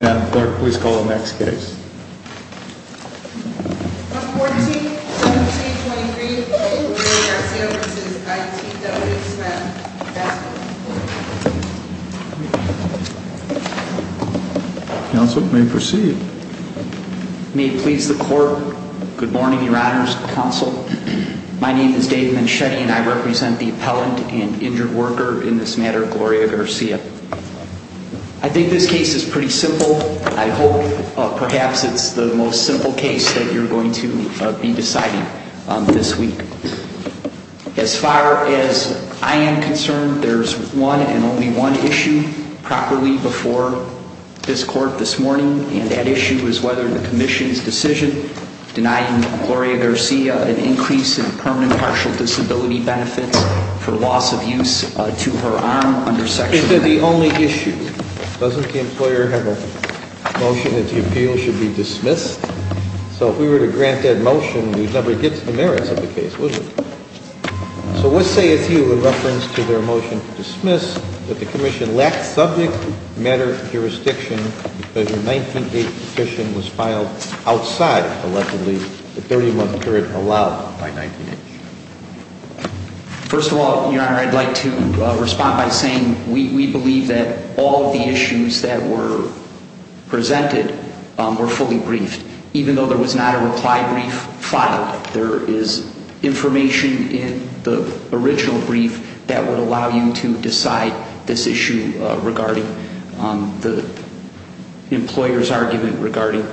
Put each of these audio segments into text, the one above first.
141723 Gloria Garcia v. I.T. W. Smith, Task Force 4. Counsel, you may proceed. May it please the Court, good morning, Your Honors Counsel. My name is Dave Manchetti and I represent the appellant and injured worker in this matter, Gloria Garcia. I think this case is pretty simple. I hope perhaps it's the most simple case that you're going to be deciding this week. As far as I am concerned, there's one and only one issue properly before this Court this morning, and that issue is whether the Commission's decision denying Gloria Garcia an increase in permanent partial disability benefits for loss of use to her arm under Section 8. Is that the only issue? Doesn't the employer have a motion that the appeal should be dismissed? So if we were to grant that motion, we'd never get to the merits of the case, would we? So let's say it's you in reference to their motion to dismiss that the Commission lacked subject matter jurisdiction because your 19-H petition was filed outside, allegedly, the 30-month period allowed by 19-H. First of all, Your Honor, I'd like to respond by saying we believe that all of the issues that were presented were fully briefed, even though there was not a reply brief filed. There is information in the original brief that would allow you to decide this issue regarding the employer's argument regarding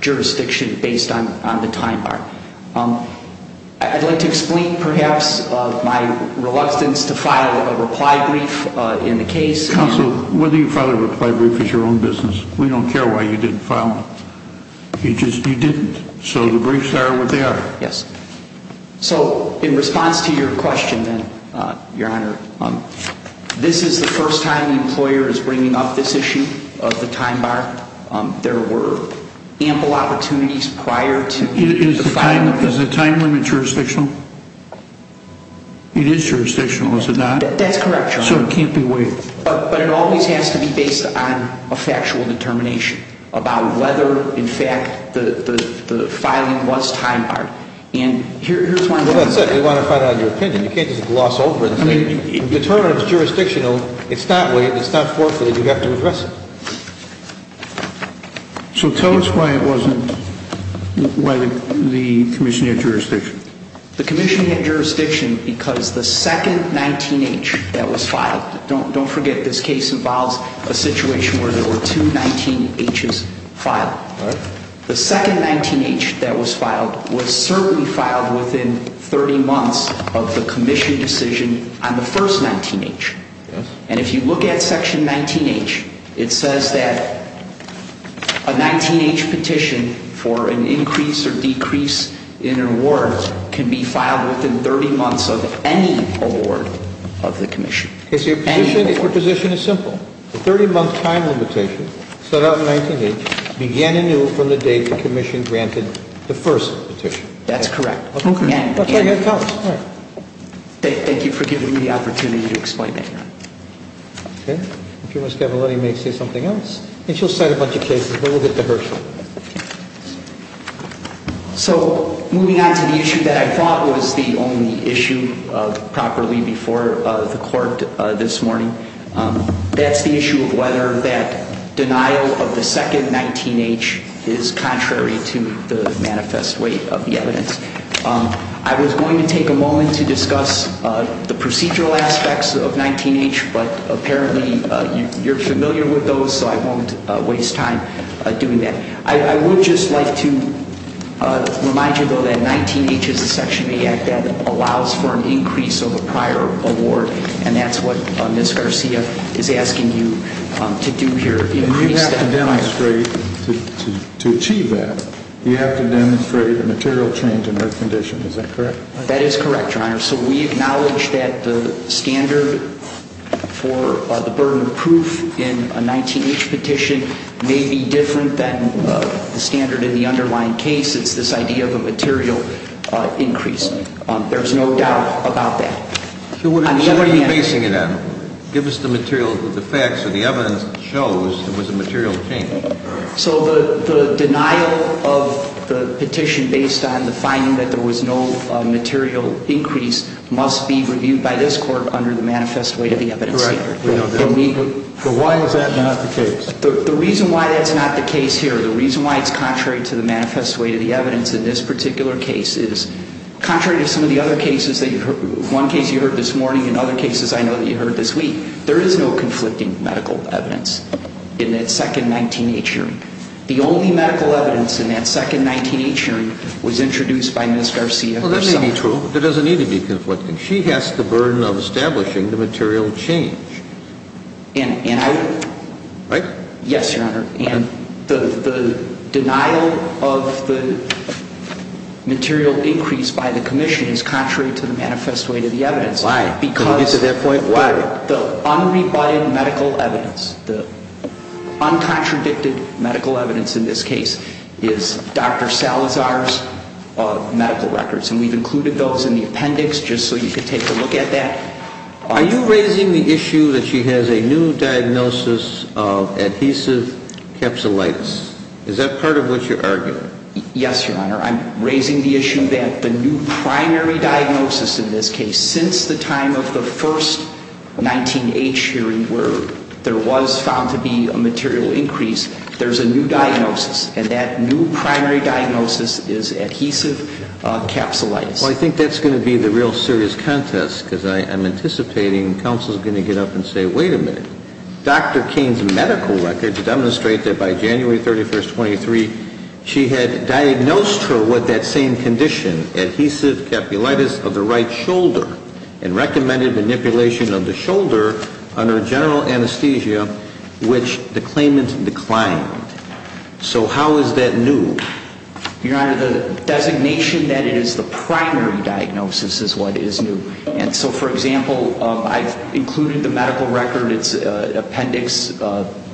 jurisdiction based on the time bar. I'd like to explain, perhaps, my reluctance to file a reply brief in the case. Counsel, whether you file a reply brief is your own business. We don't care why you didn't file it. You just didn't. So the briefs are what they are. Yes. So in response to your question, Your Honor, this is the first time the employer is bringing up this issue of the time bar. There were ample opportunities prior to the filing. Is the time limit jurisdictional? It is jurisdictional, is it not? That's correct, Your Honor. So it can't be waived? But it always has to be based on a factual determination about whether, in fact, the filing was time barred. Well, that's it. We want to find out your opinion. You can't just gloss over it. The term is jurisdictional. It's not waived. It's not forfeited. You have to address it. So tell us why it wasn't, why the commission had jurisdiction. The commission had jurisdiction because the second 19-H that was filed, don't forget this case involves a situation where there were two 19-Hs filed. The second 19-H that was filed was certainly filed within 30 months of the commission decision on the first 19-H. And if you look at Section 19-H, it says that a 19-H petition for an increase or decrease in an award can be filed within 30 months of any award of the commission. So your position is simple. The 30-month time limitation set out in 19-H began anew from the day the commission granted the first petition. That's correct. Thank you for giving me the opportunity to explain that, Your Honor. Okay. If you want, Ms. Cavalletti may say something else, and she'll cite a bunch of cases, but we'll get to her. So moving on to the issue that I thought was the only issue properly before the court this morning, that's the issue of whether that denial of the second 19-H is contrary to the manifest weight of the evidence. I was going to take a moment to discuss the procedural aspects of 19-H, but apparently you're familiar with those, so I won't waste time doing that. I would just like to remind you, though, that 19-H is a Section 8 Act that allows for an increase of a prior award, and that's what Ms. Garcia is asking you to do here. And you have to demonstrate, to achieve that, you have to demonstrate a material change in her condition. Is that correct? That is correct, Your Honor. So we acknowledge that the standard for the burden of proof in a 19-H petition may be different than the standard in the underlying case. It's this idea of a material increase. There's no doubt about that. So what are you basing it on? Give us the material, the facts or the evidence that shows there was a material change. So the denial of the petition based on the finding that there was no material increase must be reviewed by this Court under the manifest weight of the evidence here. Correct. But why is that not the case? The reason why that's not the case here, the reason why it's contrary to the manifest weight of the evidence in this particular case, is contrary to some of the other cases that you heard, one case you heard this morning and other cases I know that you heard this week. There is no conflicting medical evidence in that second 19-H hearing. The only medical evidence in that second 19-H hearing was introduced by Ms. Garcia herself. Well, that may be true, but there doesn't need to be conflicting. She has the burden of establishing the material change. And I... Right? Yes, Your Honor. And the denial of the material increase by the Commission is contrary to the manifest weight of the evidence. Why? Because... To get to that point, why? The unrebutted medical evidence, the uncontradicted medical evidence in this case is Dr. Salazar's medical records. And we've included those in the appendix just so you could take a look at that. Are you raising the issue that she has a new diagnosis of adhesive capsulitis? Is that part of what you're arguing? Yes, Your Honor. I'm raising the issue that the new primary diagnosis in this case, since the time of the first 19-H hearing where there was found to be a material increase, there's a new diagnosis. And that new primary diagnosis is adhesive capsulitis. Well, I think that's going to be the real serious contest, because I'm anticipating counsel's going to get up and say, wait a minute. Dr. Cain's medical records demonstrate that by January 31, 23, she had diagnosed her with that same condition, adhesive capsulitis of the right shoulder, and recommended manipulation of the shoulder under general anesthesia, which the claimant declined. So how is that new? Your Honor, the designation that it is the primary diagnosis is what is new. And so, for example, I've included the medical record, its appendix,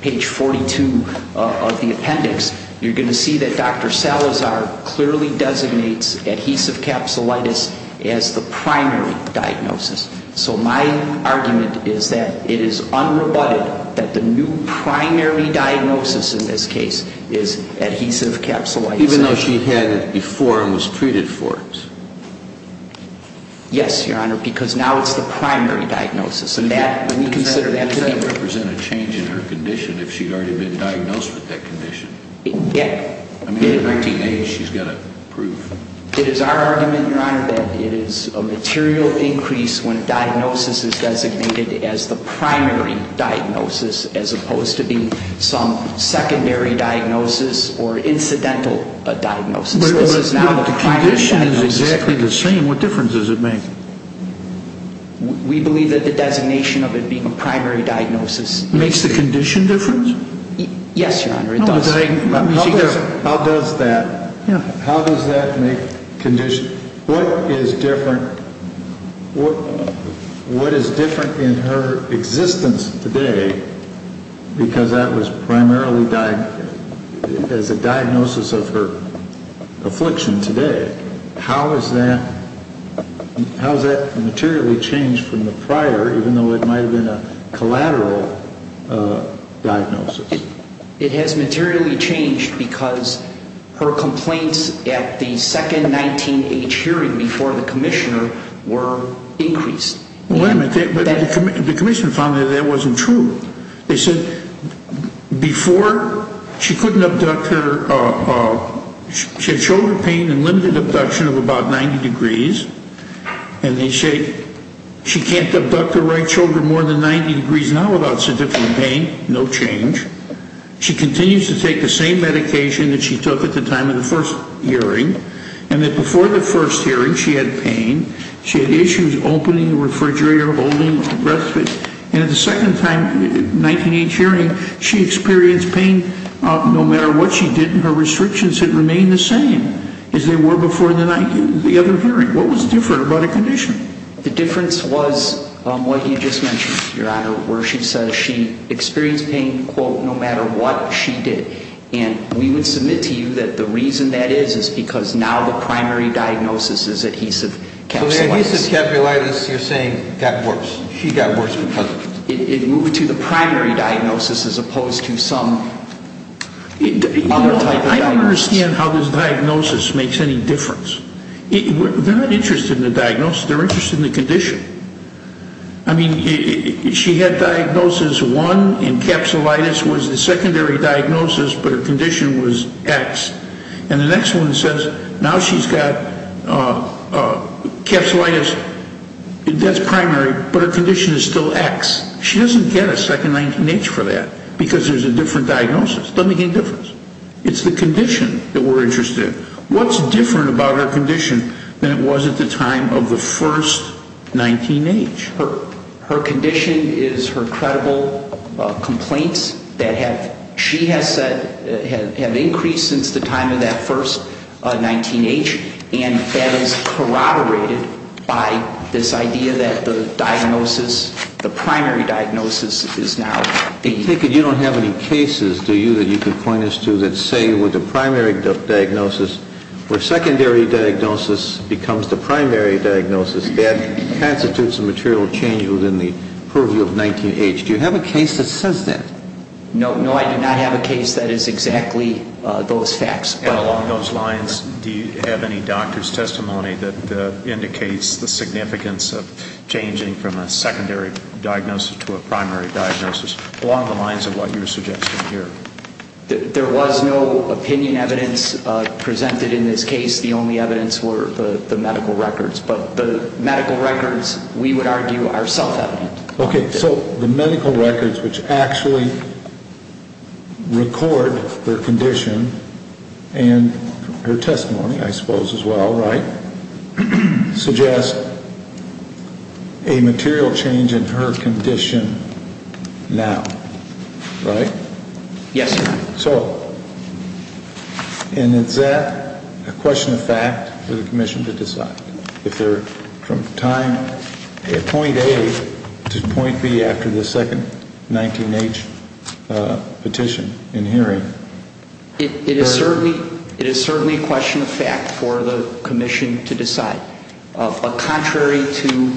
page 42 of the appendix. You're going to see that Dr. Salazar clearly designates adhesive capsulitis as the primary diagnosis. So my argument is that it is unrebutted that the new primary diagnosis in this case is adhesive capsulitis. Even though she had it before and was treated for it? Yes, Your Honor, because now it's the primary diagnosis. And that, when you consider that to be true. But that doesn't represent a change in her condition if she'd already been diagnosed with that condition. Yeah. I mean, at 19-H, she's got a proof. It is our argument, Your Honor, that it is a material increase when diagnosis is designated as the primary diagnosis, as opposed to being some secondary diagnosis or incidental diagnosis. But the condition is exactly the same. What difference does it make? We believe that the designation of it being a primary diagnosis. Makes the condition different? Yes, Your Honor, it does. How does that make condition? What is different in her existence today because that was primarily as a diagnosis of her affliction today? How has that materially changed from the prior, even though it might have been a collateral diagnosis? It has materially changed because her complaints at the second 19-H hearing before the commissioner were increased. Well, wait a minute. The commissioner found that that wasn't true. They said before she couldn't abduct her, she had shoulder pain and limited abduction of about 90 degrees. And they said she can't abduct her right shoulder more than 90 degrees now without a certificate of pain. No change. She continues to take the same medication that she took at the time of the first hearing. And that before the first hearing, she had pain. She had issues opening the refrigerator, holding, respite. And at the second time, 19-H hearing, she experienced pain no matter what she did. And her restrictions had remained the same as they were before the other hearing. What was different about her condition? The difference was what you just mentioned, Your Honor, where she says she experienced pain, quote, no matter what she did. And we would submit to you that the reason that is is because now the primary diagnosis is adhesive capsulitis. So the adhesive capsulitis you're saying got worse. She got worse because of it. It moved to the primary diagnosis as opposed to some other type of diagnosis. I don't understand how this diagnosis makes any difference. They're not interested in the diagnosis. They're interested in the condition. I mean, she had diagnosis one, and capsulitis was the secondary diagnosis, but her condition was X. And the next one says now she's got capsulitis, that's primary, but her condition is still X. She doesn't get a second 19-H for that because there's a different diagnosis. It doesn't make any difference. It's the condition that we're interested in. What's different about her condition than it was at the time of the first 19-H? Her condition is her credible complaints that she has said have increased since the time of that first 19-H, and that is corroborated by this idea that the diagnosis, the primary diagnosis, is now adhesive. You don't have any cases, do you, that you could point us to that say with the primary diagnosis, where secondary diagnosis becomes the primary diagnosis, that constitutes a material change within the purview of 19-H? Do you have a case that says that? No. No, I do not have a case that is exactly those facts. And along those lines, do you have any doctor's testimony that indicates the significance of changing from a secondary diagnosis to a primary diagnosis along the lines of what you're suggesting here? There was no opinion evidence presented in this case. The only evidence were the medical records. But the medical records, we would argue, are self-evident. Okay. So the medical records which actually record her condition and her testimony, I suppose, as well, right, a material change in her condition now, right? Yes, sir. So, and is that a question of fact for the Commission to decide? If they're from time point A to point B after the second 19-H petition in hearing? It is certainly a question of fact for the Commission to decide. But contrary to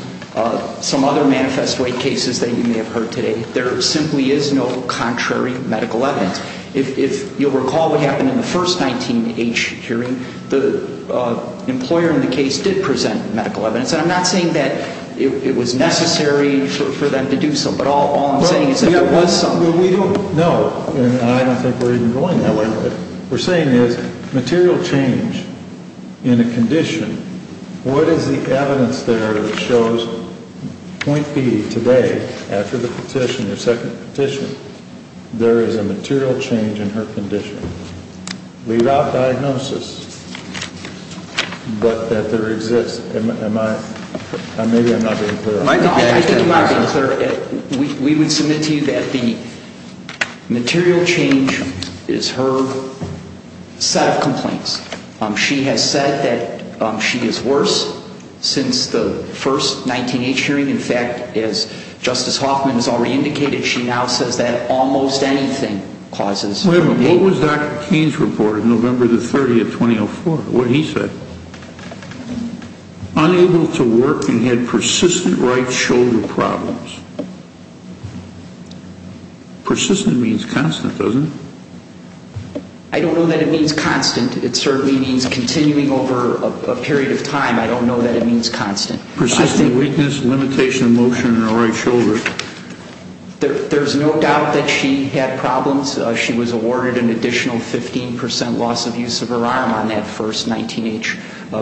some other manifest way cases that you may have heard today, there simply is no contrary medical evidence. If you'll recall what happened in the first 19-H hearing, the employer in the case did present medical evidence. And I'm not saying that it was necessary for them to do so, but all I'm saying is that there was some. No, and I don't think we're even going that way. What we're saying is material change in a condition, what is the evidence there that shows point B today after the petition, the second petition, there is a material change in her condition? Leave out diagnosis, but that there exists. Am I, maybe I'm not being clear. We would submit to you that the material change is her set of complaints. She has said that she is worse since the first 19-H hearing. In fact, as Justice Hoffman has already indicated, she now says that almost anything causes. Wait a minute, what was Dr. Keynes' report of November the 30th, 2004, what he said? Unable to work and had persistent right shoulder problems. Persistent means constant, doesn't it? I don't know that it means constant. It certainly means continuing over a period of time. I don't know that it means constant. Persistent weakness, limitation of motion in her right shoulder. There's no doubt that she had problems. She was awarded an additional 15% loss of use of her arm on that first 19-H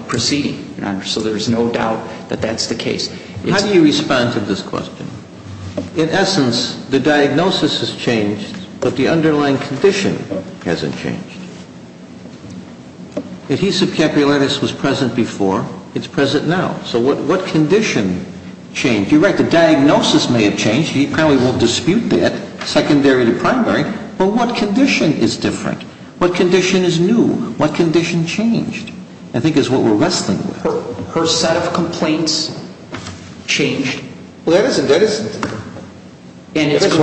proceeding. So there's no doubt that that's the case. How do you respond to this question? In essence, the diagnosis has changed, but the underlying condition hasn't changed. Adhesive capillaries was present before. It's present now. So what condition changed? You're right, the diagnosis may have changed. She apparently won't dispute that, secondary to primary. But what condition is different? What condition is new? What condition changed? I think is what we're wrestling with. Her set of complaints changed. Well, that is different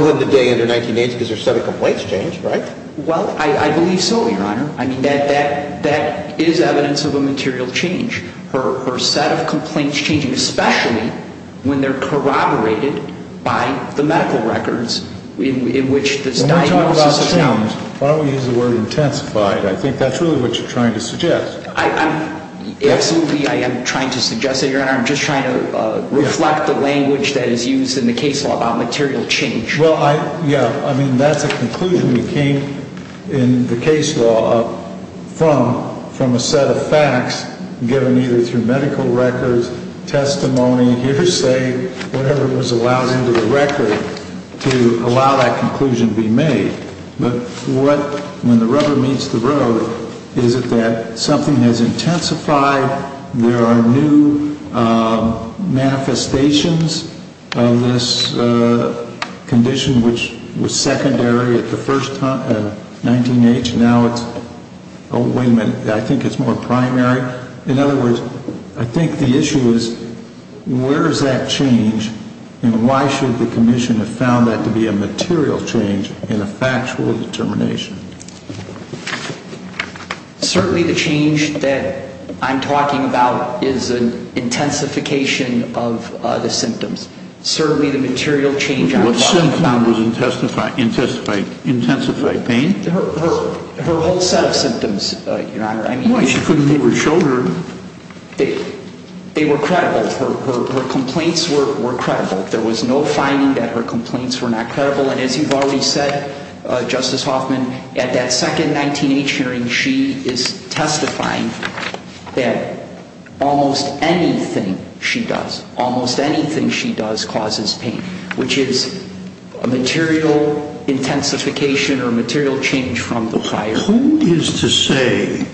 from the day in the 1980s because her set of complaints changed, right? Well, I believe so, Your Honor. I mean, that is evidence of a material change. Her set of complaints changed, especially when they're corroborated by the medical records in which this diagnosis is found. When we're talking about change, why don't we use the word intensified? I think that's really what you're trying to suggest. Absolutely, I am trying to suggest that, Your Honor. I'm just trying to reflect the language that is used in the case law about material change. Well, yeah, I mean, that's a conclusion that came in the case law from a set of facts given either through medical records, testimony, hearsay, whatever was allowed into the record to allow that conclusion to be made. But when the rubber meets the road, is it that something has intensified, there are new manifestations of this condition which was secondary at the first time, 19-H. Now it's, oh, wait a minute, I think it's more primary. In other words, I think the issue is where is that change and why should the commission have found that to be a material change in a factual determination? Certainly the change that I'm talking about is an intensification of the symptoms. Certainly the material change I'm talking about... What symptom was intensified pain? Her whole set of symptoms, Your Honor. Well, she couldn't move her shoulder. They were credible. Her complaints were credible. There was no finding that her complaints were not credible. And as you've already said, Justice Hoffman, at that second 19-H hearing, she is testifying that almost anything she does, almost anything she does causes pain, which is a material intensification or a material change from the prior. Who is to say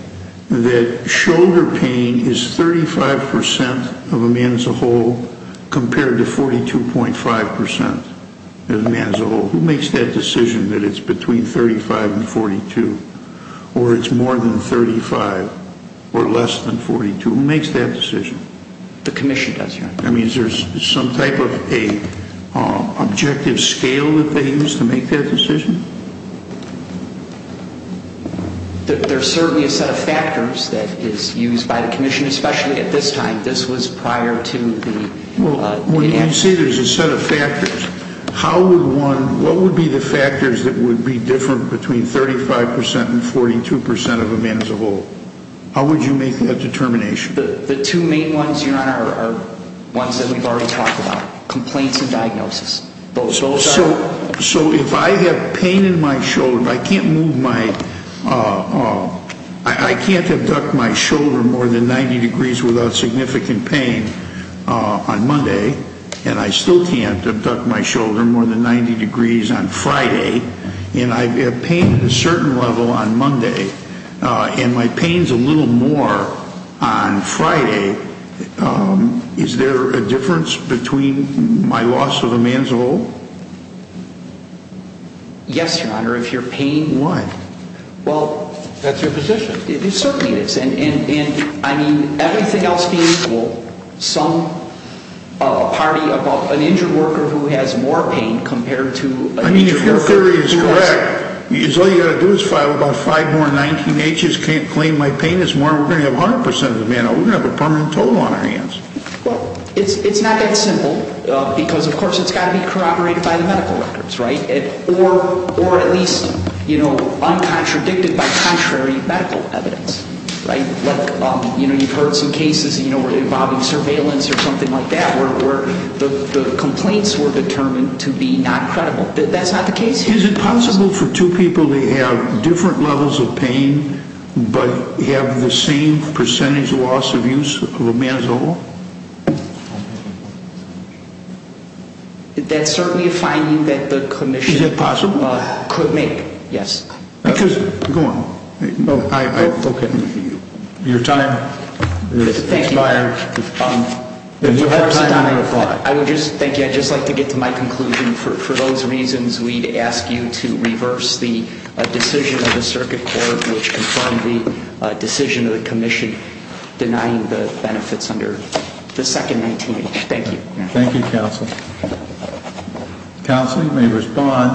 that shoulder pain is 35% of a man as a whole compared to 42.5% of a man as a whole? Who makes that decision that it's between 35 and 42 or it's more than 35 or less than 42? Who makes that decision? The commission does, Your Honor. I mean, is there some type of an objective scale that they use to make that decision? There's certainly a set of factors that is used by the commission, especially at this time. This was prior to the... Well, when you say there's a set of factors, how would one... What would be the factors that would be different between 35% and 42% of a man as a whole? How would you make that determination? The two main ones, Your Honor, are ones that we've already talked about, complaints and diagnosis. So if I have pain in my shoulder, if I can't move my... I can't abduct my shoulder more than 90 degrees without significant pain on Monday, and I still can't abduct my shoulder more than 90 degrees on Friday, and I have pain at a certain level on Monday and my pain's a little more on Friday, is there a difference between my loss of a man as a whole? Yes, Your Honor, if your pain... Why? Well... That's your position. It certainly is. And, I mean, everything else being equal, some party about an injured worker who has more pain compared to... I mean, if your theory is correct, all you've got to do is file about five more 19-Hs, can't claim my pain is more, we're going to have 100% of the man, we're going to have a permanent total on our hands. Well, it's not that simple because, of course, it's got to be corroborated by the medical records, right? Or at least, you know, uncontradicted by contrary medical evidence, right? Like, you know, you've heard some cases involving surveillance or something like that where the complaints were determined to be non-credible. That's not the case here. Is it possible for two people to have different levels of pain but have the same percentage loss of use of a man as a whole? That's certainly a finding that the commission... Is it possible? Could make, yes. Because... Go on. Okay. Your time has expired. You have time to reply. Thank you. I'd just like to get to my conclusion. For those reasons, we'd ask you to reverse the decision of the circuit court which confirmed the decision of the commission denying the benefits under the second 19-H. Thank you. Thank you, counsel. Counsel, you may respond.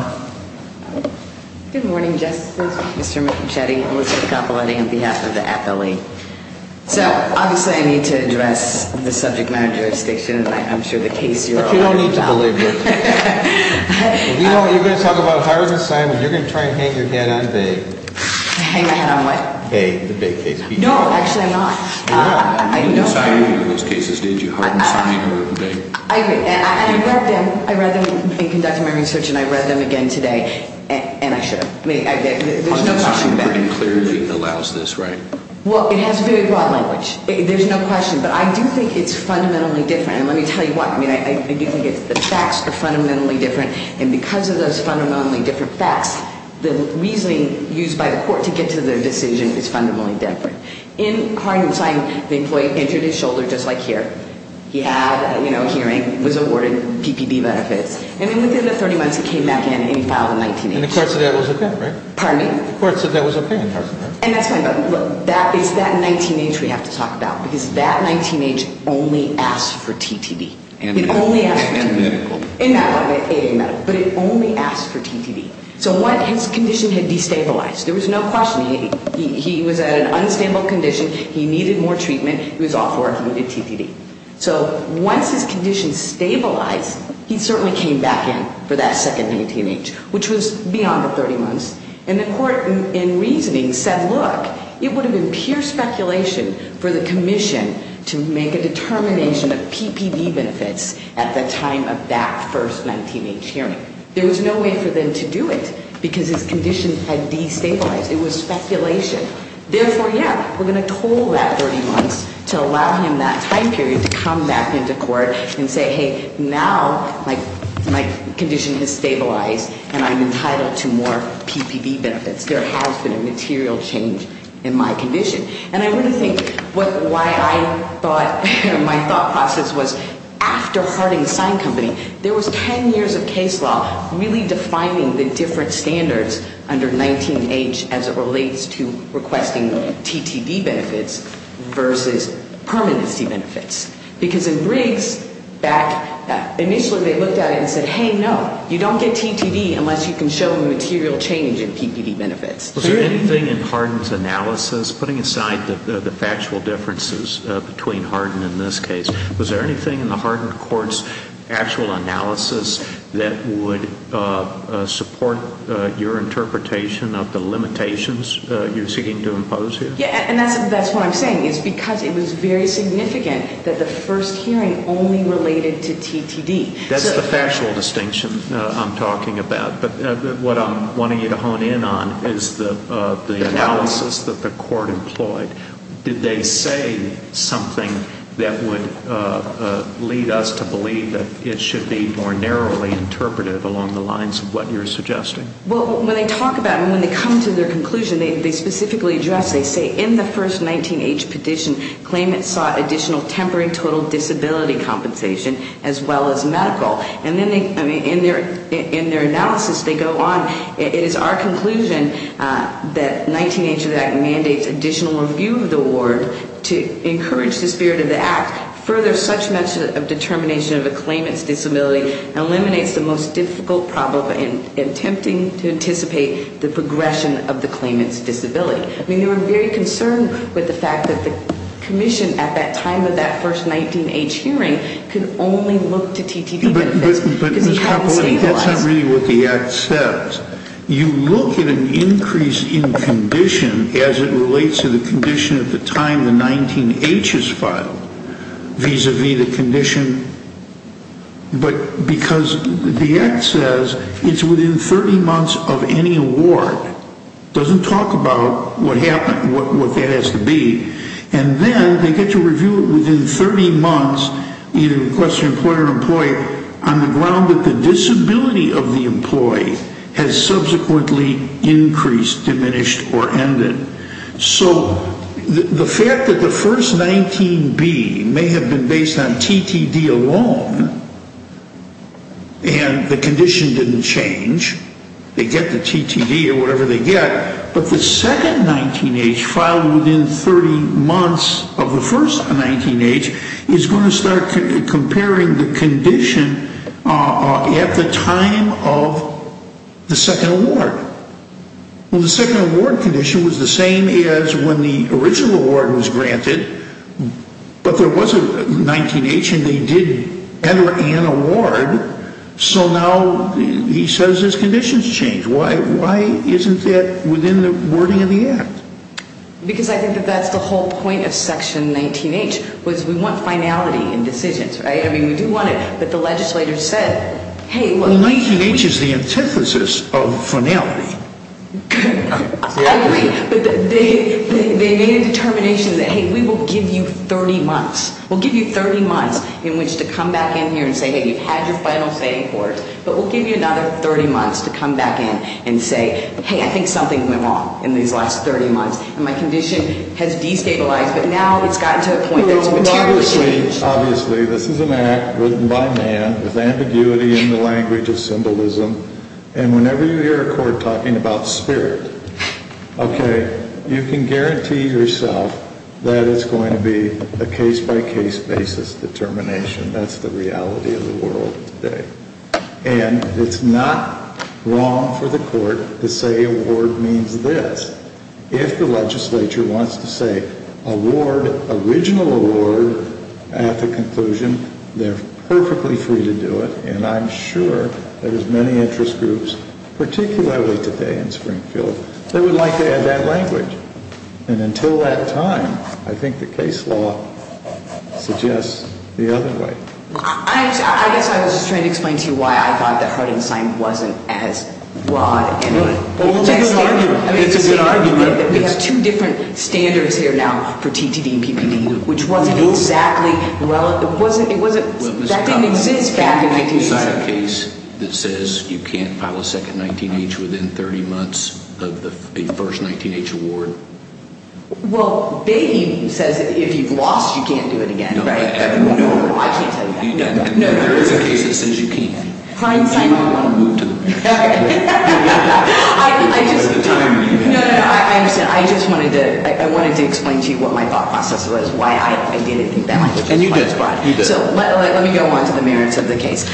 Good morning, Justice. Mr. Michetti, Elizabeth Capoletti on behalf of the appellee. So obviously I need to address the subject matter of jurisdiction, and I'm sure the case you're all aware of now. But you don't need to believe me. If you don't, you're going to talk about Harden, Simon. You're going to try and hang your head on Bay. Hang my head on what? Bay, the Bay case. No, actually I'm not. You didn't sign any of those cases, did you? Harden, Simon or Bay? I agree. And I read them. I read them in conducting my research, and I read them again today, and I should. There's no question about it. Harden, Simon pretty clearly allows this, right? Well, it has very broad language. There's no question. But I do think it's fundamentally different. And let me tell you what. I do think the facts are fundamentally different, and because of those fundamentally different facts, the reasoning used by the court to get to the decision is fundamentally different. In Harden, Simon, the employee injured his shoulder just like here. He had a hearing, was awarded PPD benefits. And then within the 30 months, he came back in and he filed a 19-H. And the court said that was okay, right? Pardon me? The court said that was okay in Harden, right? And that's fine, but look, it's that 19-H we have to talk about because that 19-H only asked for TTD. It only asked for TTD. And medical. In that one, AA medical. But it only asked for TTD. So his condition had destabilized. There was no question. He was at an unstable condition. He needed more treatment. He was off work. He needed TTD. So once his condition stabilized, he certainly came back in for that second 19-H, which was beyond the 30 months. And the court, in reasoning, said, look, it would have been pure speculation for the commission to make a determination of PPD benefits at the time of that first 19-H hearing. There was no way for them to do it because his condition had destabilized. It was speculation. Therefore, yeah, we're going to toll that 30 months to allow him that time period to come back into court and say, hey, now my condition has stabilized and I'm entitled to more PPD benefits. There has been a material change in my condition. And I want to think why I thought, my thought process was, after Harding & Sign Company, there was 10 years of case law really defining the different standards under 19-H as it relates to requesting TTD benefits versus permanency benefits. Because in Briggs, initially they looked at it and said, hey, no, you don't get TTD unless you can show material change in PPD benefits. Was there anything in Harding's analysis, putting aside the factual differences between Harding and this case, was there anything in the Harding court's actual analysis that would support your interpretation of the limitations you're seeking to impose here? Yeah, and that's what I'm saying is because it was very significant that the first hearing only related to TTD. That's the factual distinction I'm talking about. But what I'm wanting you to hone in on is the analysis that the court employed. Did they say something that would lead us to believe that it should be more narrowly interpreted along the lines of what you're suggesting? Well, when they talk about it and when they come to their conclusion, they specifically address, they say, in the first 19-H petition, claimants sought additional temporary total disability compensation as well as medical. And then in their analysis they go on, it is our conclusion that 19-H of the Act mandates additional review of the award to encourage the spirit of the Act, further such mention of determination of a claimant's disability, and eliminates the most difficult problem in attempting to anticipate the progression of the claimant's disability. I mean, they were very concerned with the fact that the commission at that time of that first 19-H hearing could only look to TTD benefits because he hadn't stabilized. But that's not really what the Act says. You look at an increase in condition as it relates to the condition at the time the 19-H is filed, vis-à-vis the condition. But because the Act says it's within 30 months of any award, it doesn't talk about what that has to be. And then they get to review it within 30 months, either request from an employer or an employee, on the ground that the disability of the employee has subsequently increased, diminished, or ended. So the fact that the first 19-B may have been based on TTD alone, and the condition didn't change, they get the TTD or whatever they get, but the second 19-H filed within 30 months of the first 19-H is going to start comparing the condition at the time of the second award. Well, the second award condition was the same as when the original award was granted, but there was a 19-H and they did enter an award, so now he says his condition's changed. Why isn't that within the wording of the Act? Because I think that that's the whole point of Section 19-H, was we want finality in decisions, right? I mean, we do want it, but the legislators said, hey, well... Well, 19-H is the antithesis of finality. Exactly. But they made a determination that, hey, we will give you 30 months. We'll give you 30 months in which to come back in here and say, hey, you've had your final say in court, but we'll give you another 30 months to come back in and say, hey, I think something went wrong in these last 30 months and my condition has destabilized, but now it's gotten to the point that it's materially changed. Obviously, this is an Act written by man with ambiguity in the language of symbolism, and whenever you hear a court talking about spirit, okay, you can guarantee yourself that it's going to be a case-by-case basis determination. That's the reality of the world today. And it's not wrong for the court to say award means this. If the legislature wants to say award, original award, at the conclusion, they're perfectly free to do it, and I'm sure there's many interest groups, particularly today in Springfield, that would like to add that language. And until that time, I think the case law suggests the other way. I guess I was just trying to explain to you why I thought that Harden's sign wasn't as broad. Well, it's a good argument. It's a good argument. We have two different standards here now for TTD and PPD, which wasn't exactly relevant. That didn't exist back in 1987. Is there a case that says you can't file a second 19-H within 30 months of the first 19-H award? Well, Bain says if you've lost, you can't do it again, right? No. I can't tell you that. No, there is a case that says you can. Klein signed it wrong. You want to move to the next? Okay. No, no, no, I understand. I just wanted to explain to you what my thought process was, why I didn't think that language was quite as broad. And you did. So let me go on to the merits of the case.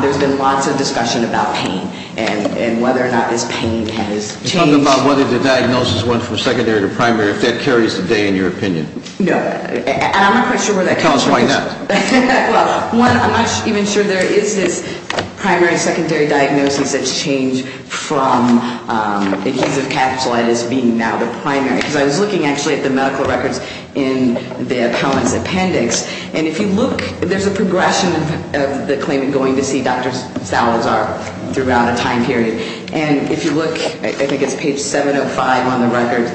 There's been lots of discussion about pain and whether or not this pain has changed. You're talking about whether the diagnosis went from secondary to primary, if that carries today in your opinion. No, and I'm not quite sure where that comes from. Tell us why not. Well, one, I'm not even sure there is this primary-secondary diagnosis that's changed from adhesive capsulitis being now the primary. Because I was looking actually at the medical records in the appellant's appendix. And if you look, there's a progression of the claimant going to see Dr. Salazar throughout a time period. And if you look, I think it's page 705 on the record,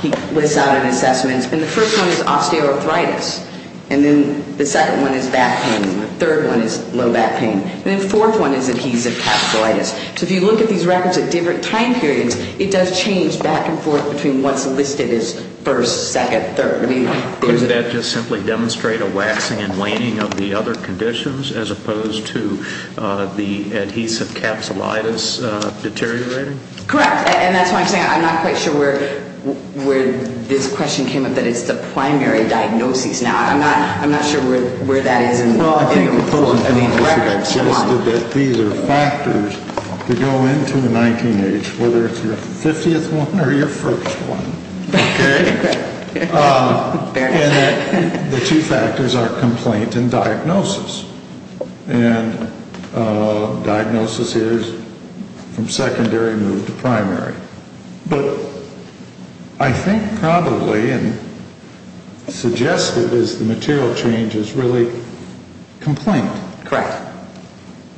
he lists out an assessment. And the first one is osteoarthritis. And then the second one is back pain. And the third one is low back pain. And then the fourth one is adhesive capsulitis. So if you look at these records at different time periods, it does change back and forth between what's listed as first, second, third. Does that just simply demonstrate a waxing and waning of the other conditions as opposed to the adhesive capsulitis deteriorating? Correct. And that's why I'm saying I'm not quite sure where this question came up that it's the primary diagnosis. Now, I'm not sure where that is in the records. These are factors that go into a 19-H, whether it's your 50th one or your first one. Okay? And the two factors are complaint and diagnosis. And diagnosis is from secondary move to primary. But I think probably and suggested is the material change is really complaint. Correct.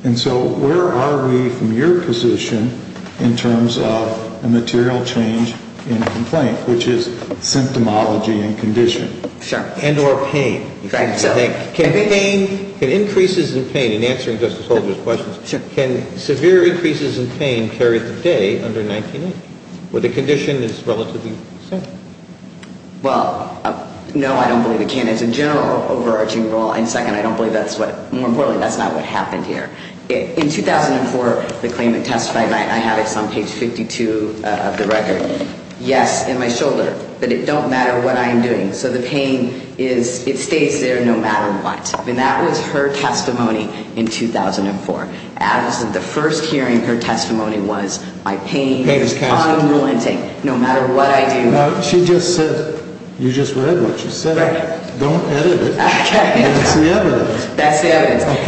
And so where are we from your position in terms of a material change in complaint, which is symptomology and condition? Sure. And or pain. Right. Can pain, can increases in pain, in answering Justice Holder's questions, can severe increases in pain carry the day under 19-H, where the condition is relatively simple? Well, no, I don't believe it can. It's a general overarching role. And second, I don't believe that's what, more importantly, that's not what happened here. In 2004, the claimant testified, and I have this on page 52 of the record, yes, in my shoulder, but it don't matter what I am doing. So the pain is, it stays there no matter what. And that was her testimony in 2004. As of the first hearing, her testimony was my pain is unrelenting no matter what I do. She just said, you just read what she said. Don't edit it. Okay. That's the evidence. That's the evidence.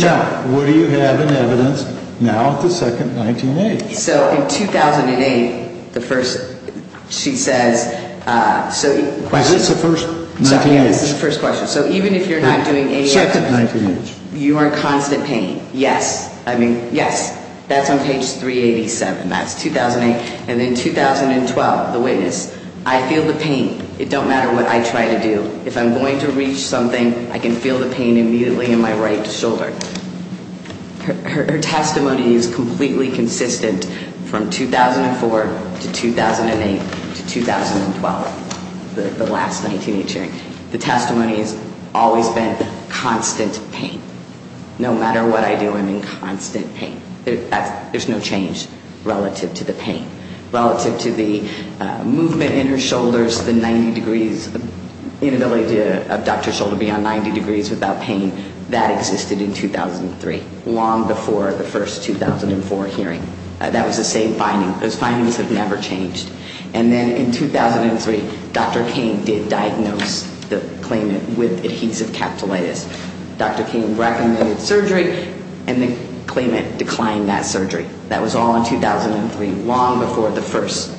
Okay. Now, what do you have in evidence now at the second 19-H? So in 2008, the first, she says, so. Is this the first 19-H? Yeah, this is the first question. So even if you're not doing any evidence. Second 19-H. You are in constant pain. Yes. I mean, yes. That's on page 387. That's 2008. And in 2012, the witness, I feel the pain. It don't matter what I try to do. If I'm going to reach something, I can feel the pain immediately in my right shoulder. Her testimony is completely consistent from 2004 to 2008 to 2012, the last 19-H hearing. The testimony has always been constant pain. No matter what I do, I'm in constant pain. There's no change relative to the pain. Relative to the movement in her shoulders, the 90 degrees, inability to abduct her shoulder beyond 90 degrees without pain, that existed in 2003, long before the first 2004 hearing. That was the same finding. Those findings have never changed. And then in 2003, Dr. Cain did diagnose the claimant with adhesive capillitis. Dr. Cain recommended surgery, and the claimant declined that surgery. That was all in 2003, long before the first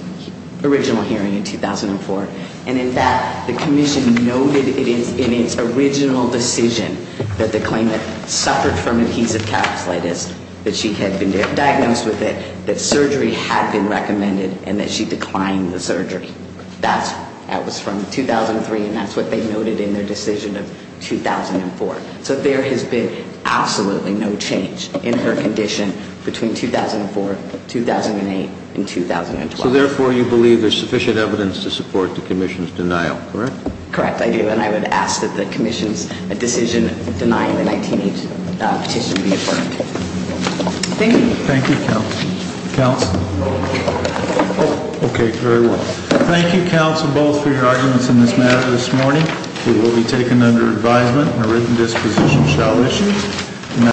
original hearing in 2004. And in that, the commission noted in its original decision that the claimant suffered from adhesive capillitis, that she had been diagnosed with it, that surgery had been recommended, and that she declined the surgery. That was from 2003, and that's what they noted in their decision of 2004. So there has been absolutely no change in her condition between 2004, 2008, and 2012. So therefore, you believe there's sufficient evidence to support the commission's denial, correct? Correct, I do. And I would ask that the commission's decision denying the 19-H petition be affirmed. Thank you. Thank you, counsel. Counsel? Okay, very well. Thank you, counsel, both, for your arguments in this matter this morning. It will be taken under advisement, and a written disposition shall issue.